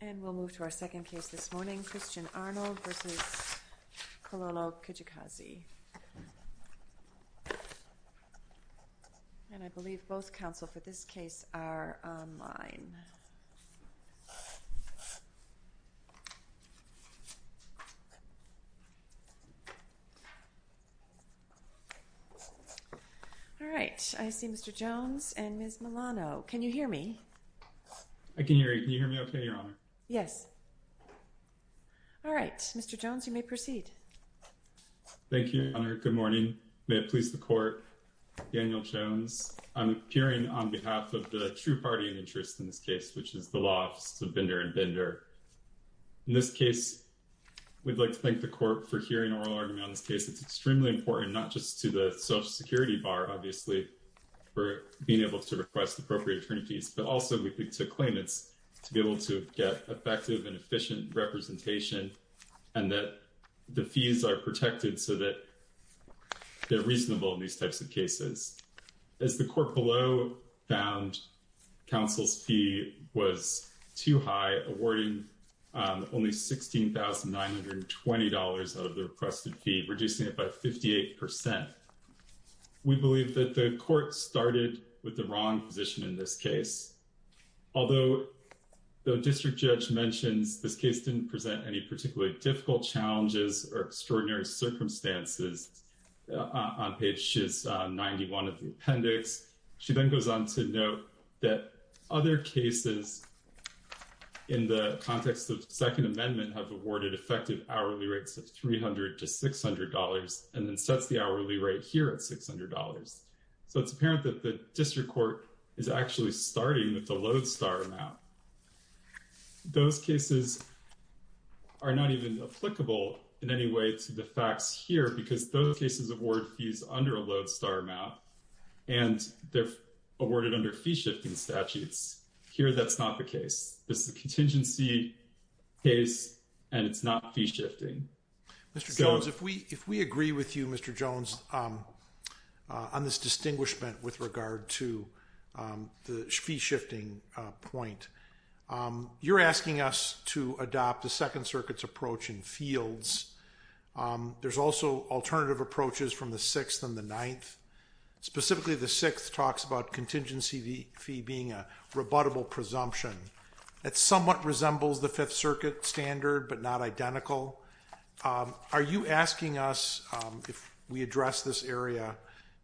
And we'll move to our second case this morning, Christian Arnold v. Kilolo Kijakazi. And I believe both counsel for this case are online. Alright, I see Mr. Jones and Ms. Milano. Can you hear me? I can hear you. Can you hear me okay, Your Honor? Yes. Alright, Mr. Jones, you may proceed. Thank you, Your Honor. Good morning. May it please the Court, Daniel Jones. I'm appearing on behalf of the true party of interest in this case, which is the law office of Bender and Bender. In this case, we'd like to thank the Court for hearing oral argument on this case. It's extremely important, not just to the Social Security Bar, obviously, for being able to request appropriate attorney fees, but also we think to claimants to be able to get effective and efficient representation and that the fees are protected so that they're reasonable in these types of cases. As the Court below found counsel's fee was too high, awarding only $16,920 out of the requested fee, reducing it by 58%. We believe that the Court started with the wrong position in this case. Although the district judge mentions this case didn't present any particularly difficult challenges or extraordinary circumstances on page 91 of the appendix, she then goes on to note that other cases in the context of Second Amendment have awarded effective hourly rates of $300 to $600 and then sets the hourly rate here at $600. So it's apparent that the district court is actually starting with the Lodestar amount. Those cases are not even applicable in any way to the facts here because those cases award fees under a Lodestar amount and they're awarded under fee-shifting statutes. Here that's not the case. This is a contingency case and it's not fee-shifting. Mr. Jones, if we agree with you, Mr. Jones, on this distinguishment with regard to the fee-shifting point, you're asking us to adopt the Second Circuit's approach in fields. There's also alternative approaches from the Sixth and the Ninth. Specifically, the Sixth talks about contingency fee being a rebuttable presumption. That somewhat resembles the Fifth Circuit standard but not identical. Are you asking us, if we address this area,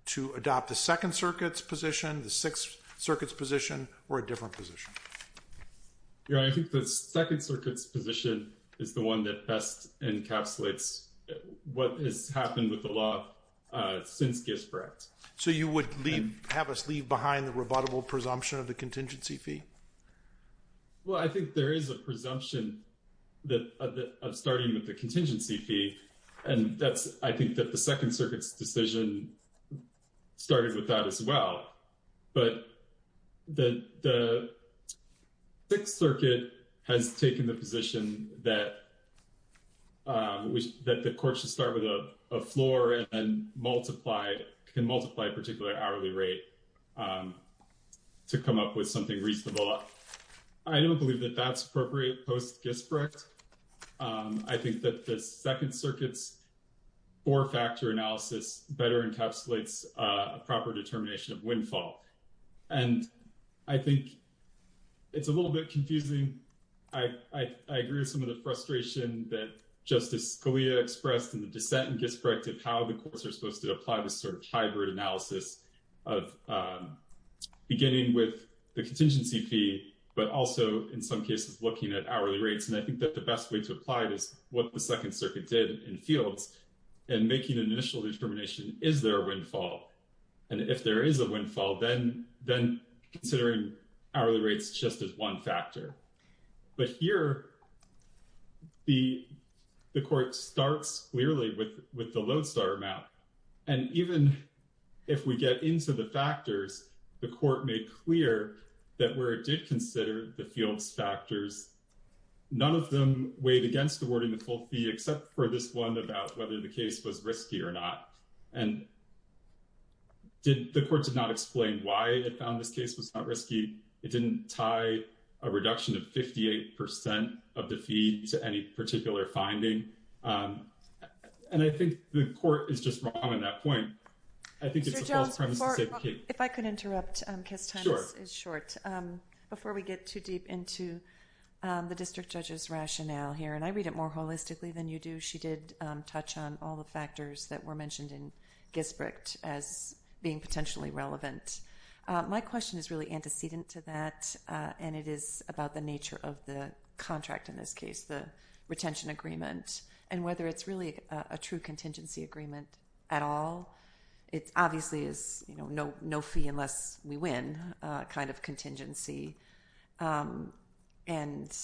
to adopt the Second Circuit's position, the Sixth Circuit's position, or a different position? Your Honor, I think the Second Circuit's position is the one that best encapsulates what has happened with the law since Gisbert. So you would have us leave behind the rebuttable presumption of the contingency fee? Well, I think there is a presumption of starting with the contingency fee and I think that the Second Circuit's decision started with that as well. But the Sixth Circuit has taken the position that the court should start with a floor and can multiply a particular hourly rate to come up with something reasonable. I don't believe that that's appropriate post-Gisbert. I think that the Second Circuit's four-factor analysis better encapsulates a proper determination of windfall. And I think it's a little bit confusing. I agree with some of the frustration that Justice Scalia expressed in the dissent in Gisbert of how the courts are supposed to apply this sort of hybrid analysis of beginning with the contingency fee but also, in some cases, looking at hourly rates. And I think that the best way to apply this is what the Second Circuit did in Fields in making an initial determination, is there a windfall? And if there is a windfall, then considering hourly rates just as one factor. But here, the court starts clearly with the load-starter map. And even if we get into the factors, the court made clear that where it did consider the Fields factors, none of them weighed against the wording of the full fee except for this one about whether the case was risky or not. And the court did not explain why it found this case was not risky. It didn't tie a reduction of 58% of the fee to any particular finding. And I think the court is just wrong on that point. I think it's a false premise to say the case. Mr. Jones, if I could interrupt because time is short. Sure. Before we get too deep into the district judge's rationale here, and I read it more holistically than you do, she did touch on all the factors that were mentioned in Gisbert as being potentially relevant. My question is really antecedent to that, and it is about the nature of the contract in this case, the retention agreement, and whether it's really a true contingency agreement at all. It obviously is no fee unless we win kind of contingency, and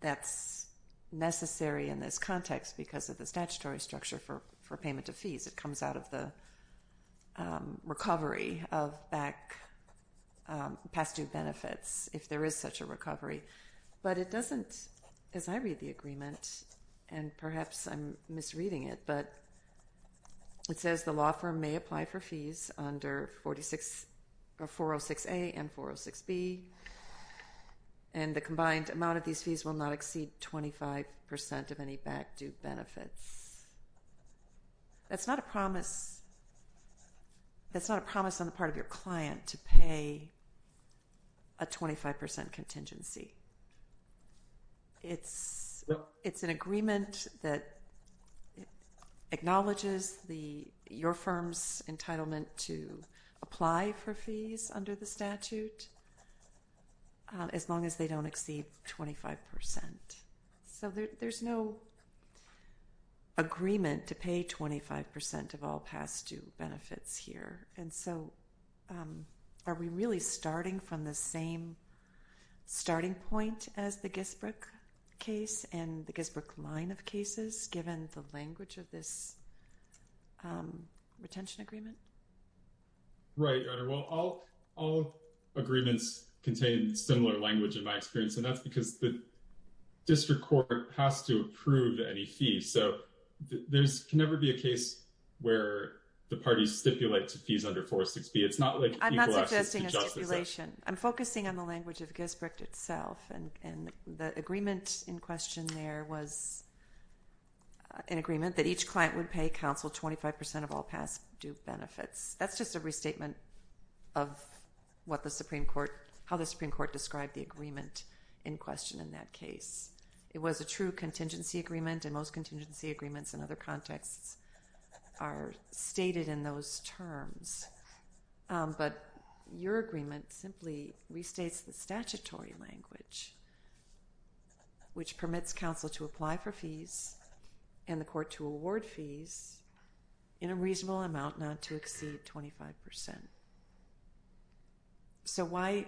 that's necessary in this context because of the statutory structure for payment of fees. It comes out of the recovery of past due benefits if there is such a recovery. But it doesn't, as I read the agreement, and perhaps I'm misreading it, but it says the law firm may apply for fees under 406A and 406B, and the combined amount of these fees will not exceed 25% of any back due benefits. That's not a promise on the part of your client to pay a 25% contingency. It's an agreement that acknowledges your firm's entitlement to apply for fees under the statute as long as they don't exceed 25%. So there's no agreement to pay 25% of all past due benefits here, and so are we really starting from the same starting point as the Gisbert case and the Gisbert line of cases given the language of this retention agreement? Right, Your Honor. Well, all agreements contain similar language in my experience, and that's because the district court has to approve any fees. So there can never be a case where the parties stipulate to fees under 406B. It's not like equal access to justice. I'm not suggesting a stipulation. I'm focusing on the language of Gisbert itself, and the agreement in question there was an agreement that each client would pay counsel 25% of all past due benefits. That's just a restatement of how the Supreme Court described the agreement in question in that case. It was a true contingency agreement, and most contingency agreements in other contexts are stated in those terms, but your agreement simply restates the statutory language, which permits counsel to apply for fees and the court to award fees in a reasonable amount not to exceed 25%. So why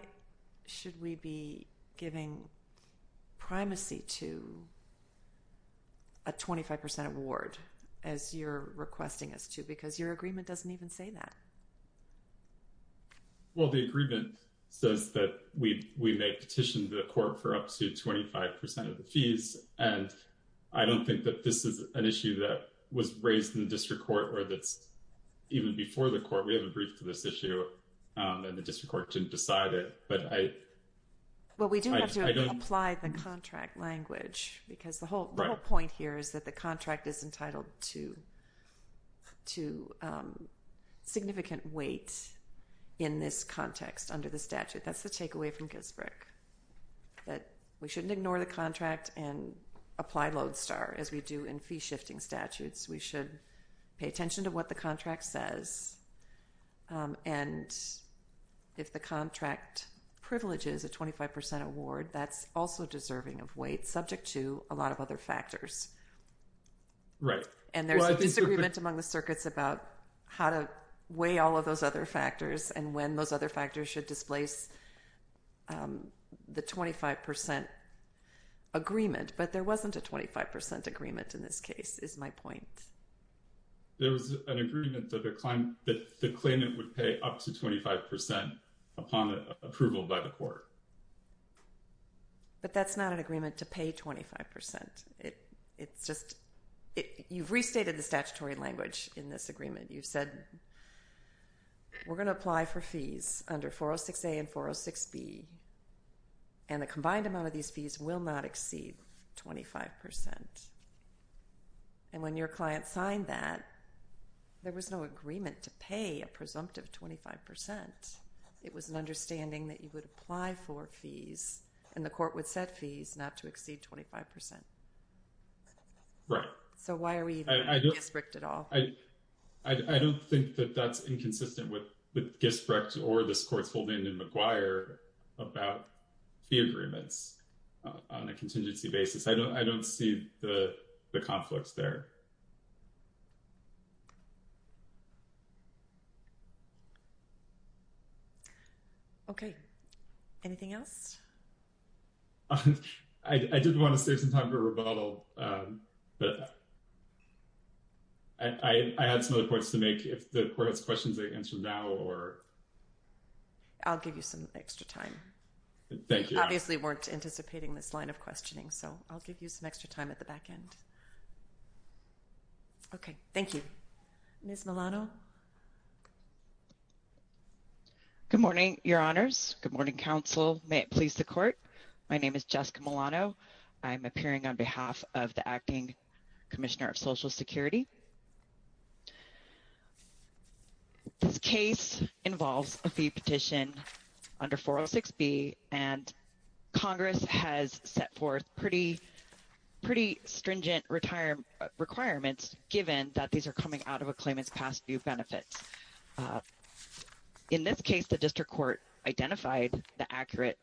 should we be giving primacy to a 25% award as you're requesting us to because your agreement doesn't even say that? Well, the agreement says that we may petition the court for up to 25% of the fees, and I don't think that this is an issue that was raised in the district court or that's even before the court. We have a brief to this issue, and the district court didn't decide it. Well, we do have to apply the contract language because the whole point here is that the contract is entitled to significant weight in this context under the statute. That's the takeaway from Gisbrick, that we shouldn't ignore the contract and apply Lodestar, as we do in fee-shifting statutes. We should pay attention to what the contract says, and if the contract privileges a 25% award, that's also deserving of weight subject to a lot of other factors. Right. And there's a disagreement among the circuits about how to weigh all of those other factors and when those other factors should displace the 25% agreement, but there wasn't a 25% agreement in this case, is my point. There was an agreement that the claimant would pay up to 25% upon approval by the court. But that's not an agreement to pay 25%. It's just you've restated the statutory language in this agreement. You've said we're going to apply for fees under 406A and 406B, and the combined amount of these fees will not exceed 25%. And when your client signed that, there was no agreement to pay a presumptive 25%. It was an understanding that you would apply for fees, and the court would set fees not to exceed 25%. Right. So why are we even in Gisbrick at all? I don't think that that's inconsistent with Gisbrick or this court's holding in McGuire about fee agreements on a contingency basis. I don't see the conflicts there. Okay. Anything else? I did want to save some time for rebuttal, but I had some other points to make. If the court has questions, I can answer now, or... I'll give you some extra time. Thank you. We obviously weren't anticipating this line of questioning, so I'll give you some extra time at the back end. Okay. Thank you. Ms. Milano? Good morning, Your Honors. Good morning, Council. May it please the court, my name is Jessica Milano. I'm appearing on behalf of the Acting Commissioner of Social Security. This case involves a fee petition under 406B, and Congress has set forth pretty stringent requirements, given that these are coming out of a claimant's past due benefits. In this case, the district court identified the accurate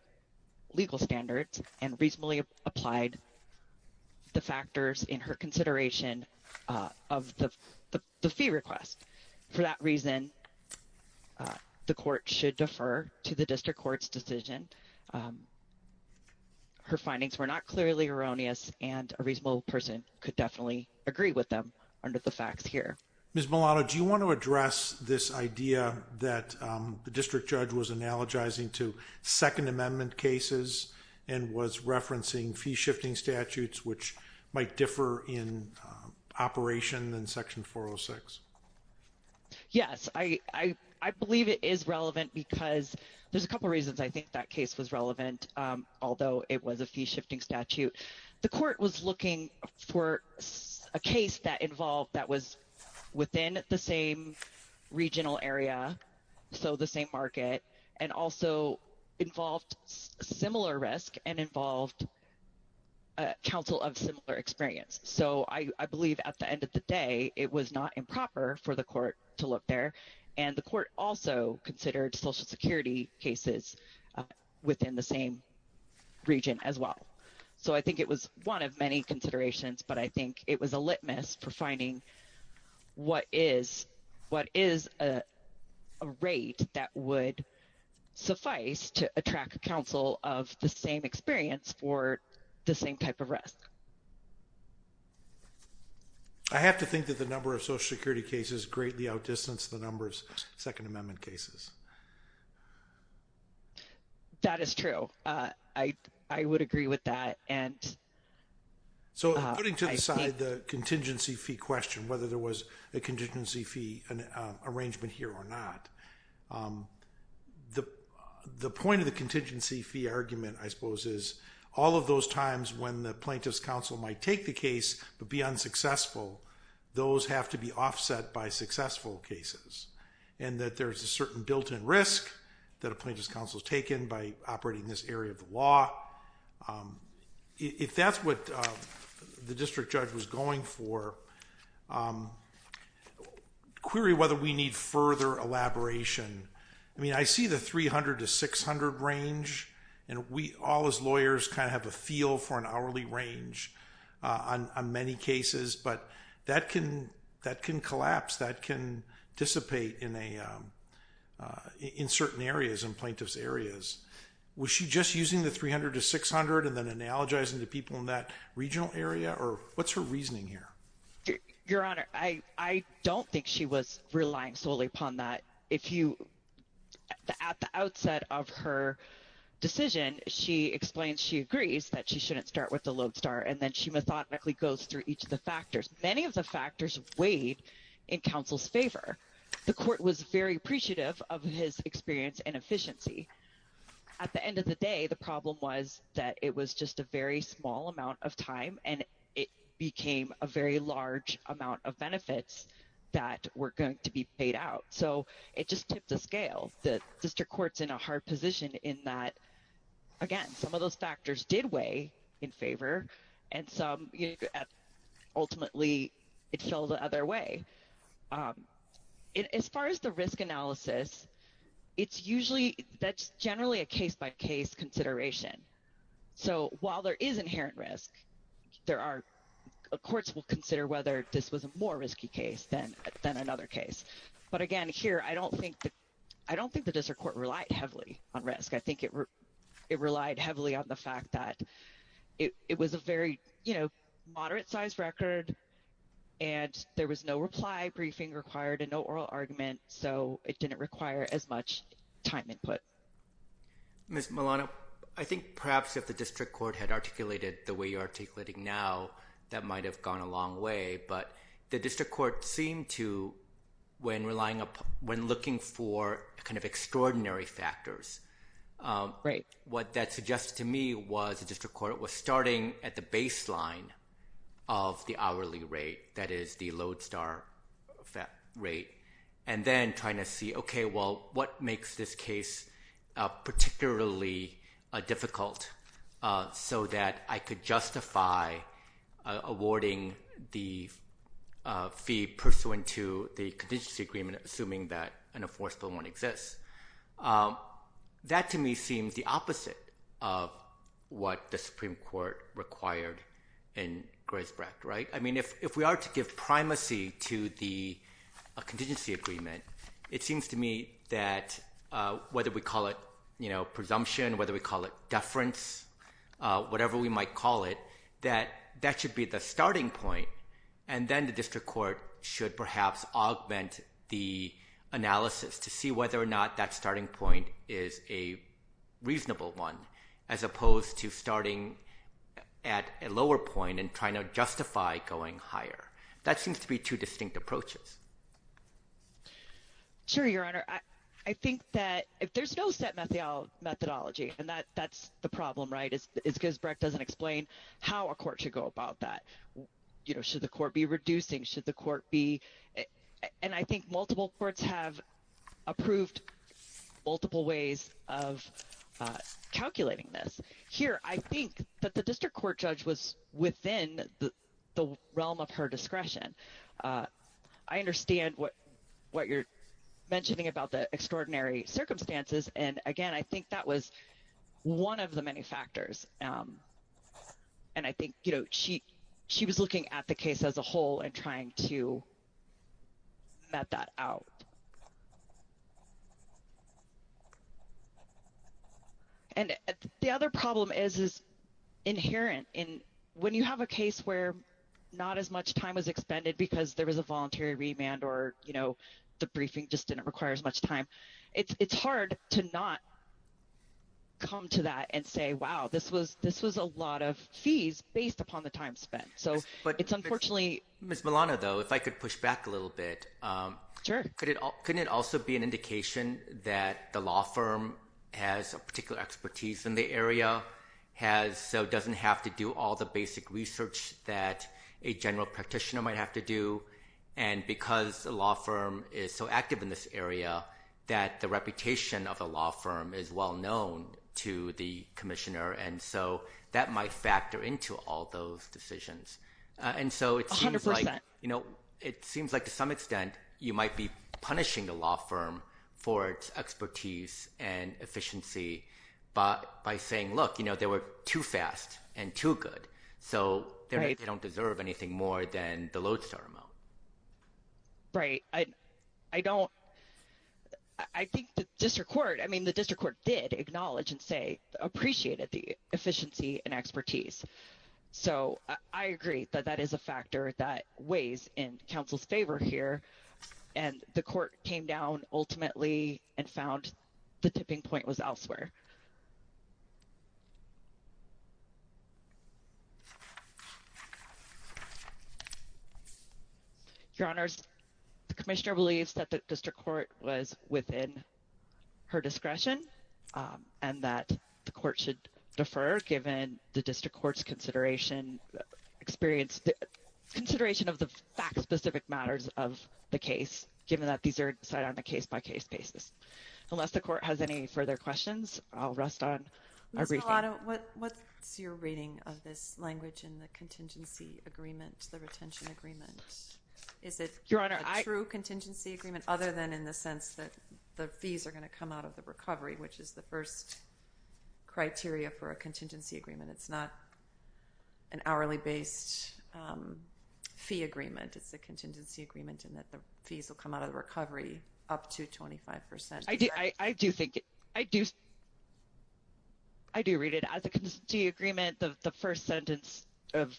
legal standards and reasonably applied the factors in her consideration of the fee request. For that reason, the court should defer to the district court's decision. Her findings were not clearly erroneous, and a reasonable person could definitely agree with them under the facts here. Ms. Milano, do you want to address this idea that the district judge was analogizing to Second Amendment cases and was referencing fee-shifting statutes, which might differ in operation than Section 406? Yes. I believe it is relevant because there's a couple reasons I think that case was relevant, although it was a fee-shifting statute. The court was looking for a case that was within the same regional area, so the same market, and also involved similar risk and involved counsel of similar experience. So I believe at the end of the day, it was not improper for the court to look there, and the court also considered Social Security cases within the same region as well. So I think it was one of many considerations, but I think it was a litmus for finding what is a rate that would suffice to attract counsel of the same experience for the same type of risk. I have to think that the number of Social Security cases greatly outdistanced the number of Second Amendment cases. That is true. I would agree with that. So putting to the side the contingency fee question, whether there was a contingency fee arrangement here or not, the point of the contingency fee argument, I suppose, is all of those times when the plaintiff's counsel might take the case but be unsuccessful, those have to be offset by successful cases, and that there's a certain built-in risk that a plaintiff's counsel has taken by operating in this area of the law. If that's what the district judge was going for, query whether we need further elaboration. I mean, I see the 300 to 600 range, and we all as lawyers kind of have a feel for an hourly range on many cases, but that can collapse. That can dissipate in certain areas, in plaintiff's areas. Was she just using the 300 to 600 and then analogizing to people in that regional area, or what's her reasoning here? Your Honor, I don't think she was relying solely upon that. At the outset of her decision, she explains she agrees that she shouldn't start with the lodestar, and then she methodically goes through each of the factors. Many of the factors weighed in counsel's favor. The court was very appreciative of his experience and efficiency. At the end of the day, the problem was that it was just a very small amount of time, and it became a very large amount of benefits that were going to be paid out. So it just tipped the scale. The district court's in a hard position in that, again, some of those factors did weigh in favor, and ultimately, it fell the other way. As far as the risk analysis, that's generally a case-by-case consideration. So while there is inherent risk, courts will consider whether this was a more risky case than another case. But again, here, I don't think the district court relied heavily on risk. I think it relied heavily on the fact that it was a very moderate-sized record, and there was no reply briefing required and no oral argument, so it didn't require as much time input. Ms. Malano, I think perhaps if the district court had articulated the way you're articulating now, that might have gone a long way, but the district court seemed to, when looking for kind of extraordinary factors, what that suggested to me was the district court was starting at the baseline of the hourly rate, that is, the lodestar rate, and then trying to see, okay, well, what makes this case particularly difficult, so that I could justify awarding the fee pursuant to the contingency agreement, assuming that an enforceable one exists. That, to me, seems the opposite of what the Supreme Court required in Graysbrook, right? I mean, if we are to give primacy to the contingency agreement, it seems to me that whether we call it, you know, presumption, whether we call it deference, whatever we might call it, that that should be the starting point, and then the district court should perhaps augment the analysis to see whether or not that starting point is a reasonable one, as opposed to starting at a lower point and trying to justify going higher. That seems to be two distinct approaches. Sure, Your Honor. I think that if there's no set methodology, and that's the problem, right? It's because Brecht doesn't explain how a court should go about that. You know, should the court be reducing? Should the court be? And I think multiple courts have approved multiple ways of calculating this. Here, I think that the district court judge was within the realm of her discretion. I understand what you're mentioning about the extraordinary circumstances, and again, I think that was one of the many factors. And I think, you know, she was looking at the case as a whole and trying to met that out. And the other problem is inherent. When you have a case where not as much time was expended because there was a voluntary remand or, you know, the briefing just didn't require as much time, it's hard to not come to that and say, wow, this was a lot of fees based upon the time spent. So it's unfortunately… Ms. Milano, though, if I could push back a little bit. Sure. Couldn't it also be an indication that the law firm has a particular expertise in the area, so doesn't have to do all the basic research that a general practitioner might have to do, and because the law firm is so active in this area that the reputation of the law firm is well known to the commissioner, and so that might factor into all those decisions. And so it seems like… 100%. …you know, it seems like to some extent you might be punishing the law firm for its expertise and efficiency by saying, look, you know, they were too fast and too good. So they don't deserve anything more than the lodestar amount. Right. I don't… I think the district court, I mean, the district court did acknowledge and say appreciated the efficiency and expertise. So I agree that that is a factor that weighs in counsel's favor here, and the court came down ultimately and found the tipping point was elsewhere. Your Honors, the commissioner believes that the district court was within her discretion and that the court should defer, given the district court's consideration, experience, consideration of the fact-specific matters of the case, given that these are decided on a case-by-case basis. Unless the court has any further questions, I'll rest on our briefing. Ms. Solano, what's your reading of this language in the contingency agreement, the retention agreement? Is it… Your Honor, I… …a true contingency agreement, other than in the sense that the fees are going to come out of the recovery, which is the first criteria for a contingency agreement. It's not an hourly-based fee agreement. It's a contingency agreement in that the fees will come out of the recovery up to 25%. I do think… I do… I do read it as a contingency agreement. The first sentence of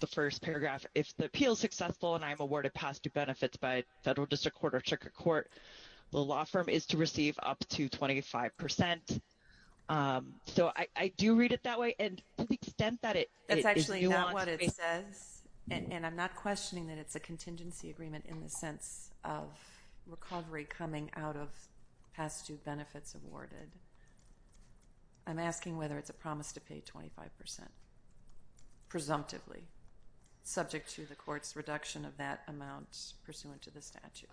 the first paragraph, if the appeal is successful and I'm awarded positive benefits by federal district court or district court, the law firm is to receive up to 25%. So, I do read it that way, and to the extent that it… That's actually not what it says, and I'm not questioning that it's a contingency agreement in the sense of recovery coming out of past due benefits awarded. I'm asking whether it's a promise to pay 25%, presumptively, subject to the court's reduction of that amount pursuant to the statute.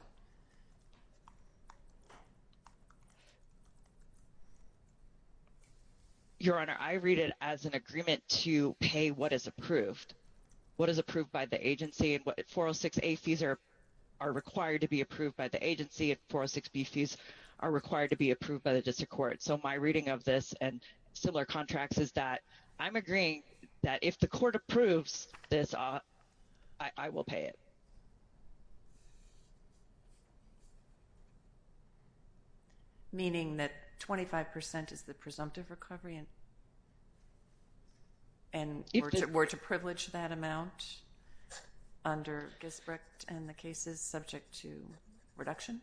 Your Honor, I read it as an agreement to pay what is approved, what is approved by the agency. And 406A fees are required to be approved by the agency, and 406B fees are required to be approved by the district court. So, my reading of this and similar contracts is that I'm agreeing that if the court approves this, I will pay it. Meaning that 25% is the presumptive recovery and were to privilege that amount under Gisbrecht and the cases subject to reduction?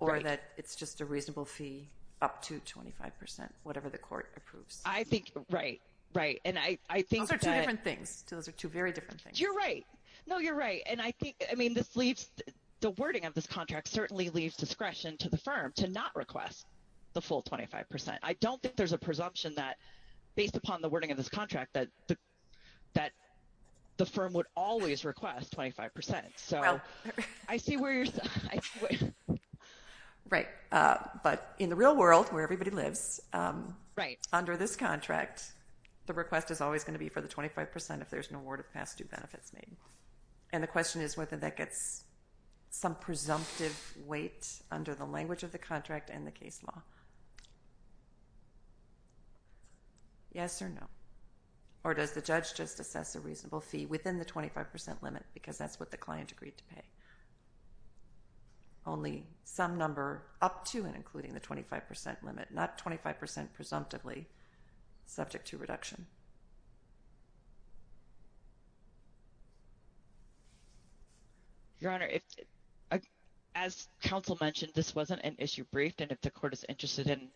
Right. Or that it's just a reasonable fee up to 25%, whatever the court approves? I think… Right, right. And I think that… Those are two different things. Those are two very different things. You're right. No, you're right. And I think… I mean, this leaves… The wording of this contract certainly leaves discretion to the firm to not request the full 25%. I don't think there's a presumption that, based upon the wording of this contract, that the firm would always request 25%. So, I see where you're… Right. But in the real world, where everybody lives, under this contract, the request is always going to be for the 25% if there's an award of past due benefits made. And the question is whether that gets some presumptive weight under the language of the contract and the case law. Yes or no? Or does the judge just assess a reasonable fee within the 25% limit because that's what the client agreed to pay? Only some number up to and including the 25% limit, not 25% presumptively subject to reduction. Your Honor, as counsel mentioned, this wasn't an issue briefed, and if the court is interested in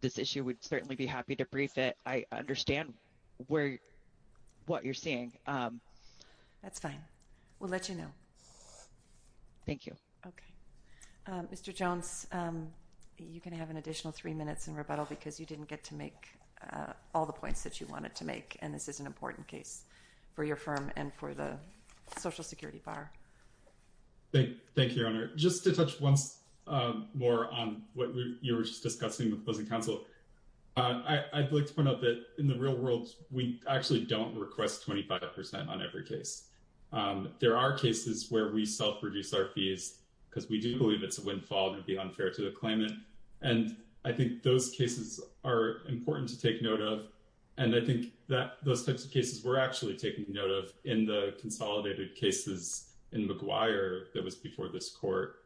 this issue, we'd certainly be happy to brief it. I understand what you're seeing. That's fine. We'll let you know. Thank you. Okay. Mr. Jones, you can have an additional three minutes in rebuttal because you didn't get to make all the points that you wanted to make, and this is an important case for your firm and for the Social Security Bar. Thank you, Your Honor. Just to touch once more on what you were just discussing with opposing counsel, I'd like to point out that in the real world, we actually don't request 25% on every case. There are cases where we self-reduce our fees because we do believe it's a windfall and it'd be unfair to the claimant, and I think those cases are important to take note of. And I think that those types of cases we're actually taking note of in the consolidated cases in McGuire that was before this court,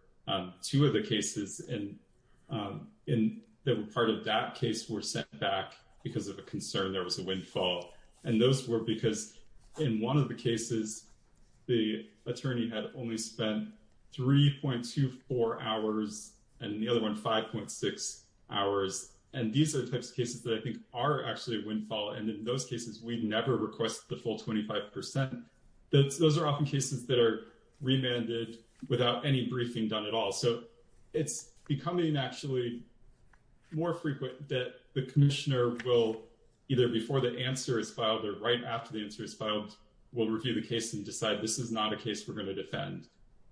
two of the cases that were part of that case were sent back because of a concern there was a windfall. And those were because in one of the cases, the attorney had only spent 3.24 hours and the other one 5.6 hours. And these are the types of cases that I think are actually a windfall, and in those cases, we never request the full 25%. Those are often cases that are remanded without any briefing done at all, so it's becoming actually more frequent that the commissioner will, either before the answer is filed or right after the answer is filed, will review the case and decide this is not a case we're going to defend,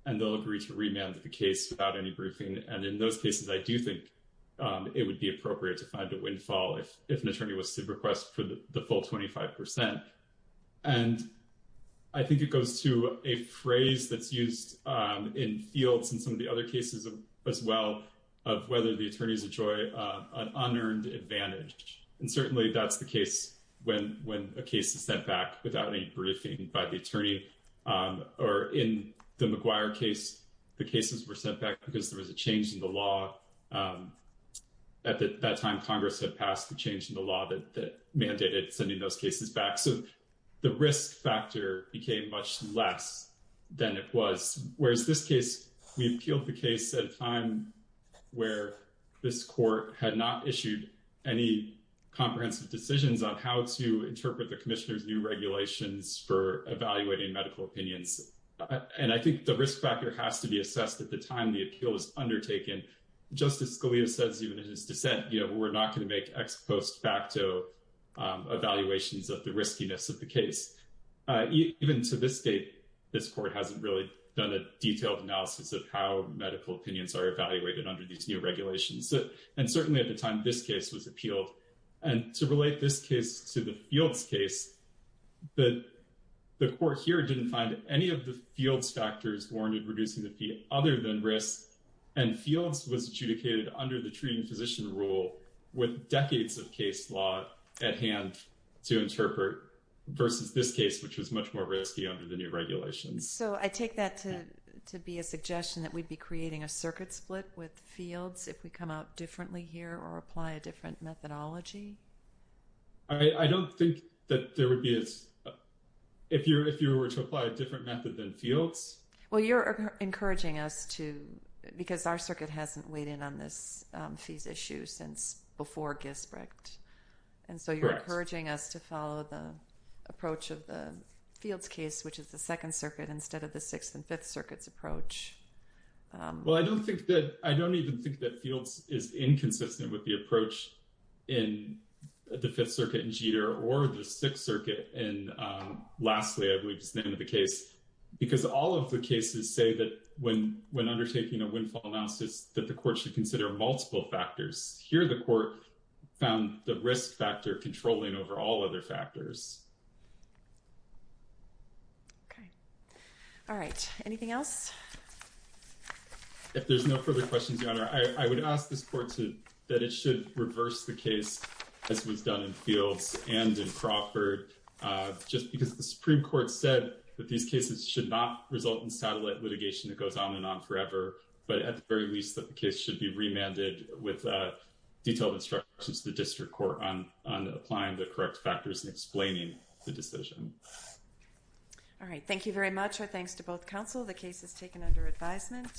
and they'll agree to remand the case without any briefing. And in those cases, I do think it would be appropriate to find a windfall if an attorney was to request for the full 25%. And I think it goes to a phrase that's used in fields in some of the other cases as well, of whether the attorneys enjoy an unearned advantage. And certainly that's the case when a case is sent back without any briefing by the attorney, or in the McGuire case, the cases were sent back because there was a change in the law. At that time, Congress had passed the change in the law that mandated sending those cases back, so the risk factor became much less than it was. Whereas this case, we appealed the case at a time where this court had not issued any comprehensive decisions on how to interpret the commissioner's new regulations for evaluating medical opinions. And I think the risk factor has to be assessed at the time the appeal is undertaken. Justice Scalia says even in his dissent, we're not going to make ex post facto evaluations of the riskiness of the case. Even to this date, this court hasn't really done a detailed analysis of how medical opinions are evaluated under these new regulations. And certainly at the time this case was appealed. And to relate this case to the fields case, the court here didn't find any of the fields factors warranted reducing the fee other than risk. And fields was adjudicated under the treating physician rule with decades of case law at hand to interpret versus this case, which was much more risky under the new regulations. So I take that to be a suggestion that we'd be creating a circuit split with fields if we come out differently here or apply a different methodology. I don't think that there would be as if you're if you were to apply a different method than fields. Well, you're encouraging us to because our circuit hasn't weighed in on this fees issue since before Gisbert. And so you're encouraging us to follow the approach of the fields case, which is the Second Circuit instead of the Sixth and Fifth Circuits approach. Well, I don't think that I don't even think that fields is inconsistent with the approach in the Fifth Circuit and Jeter or the Sixth Circuit. And lastly, I believe is the end of the case, because all of the cases say that when when undertaking a windfall analysis that the court should consider multiple factors here, the court found the risk factor controlling over all other factors. All right. Anything else? If there's no further questions, I would ask this court to that it should reverse the case as was done in fields and in Crawford, just because the Supreme Court said that these cases should not result in satellite litigation that goes on and on forever. But at the very least, the case should be remanded with detailed instructions to the district court on applying the correct factors and explaining the decision. All right. Thank you very much. Thanks to both counsel. The case is taken under advisement.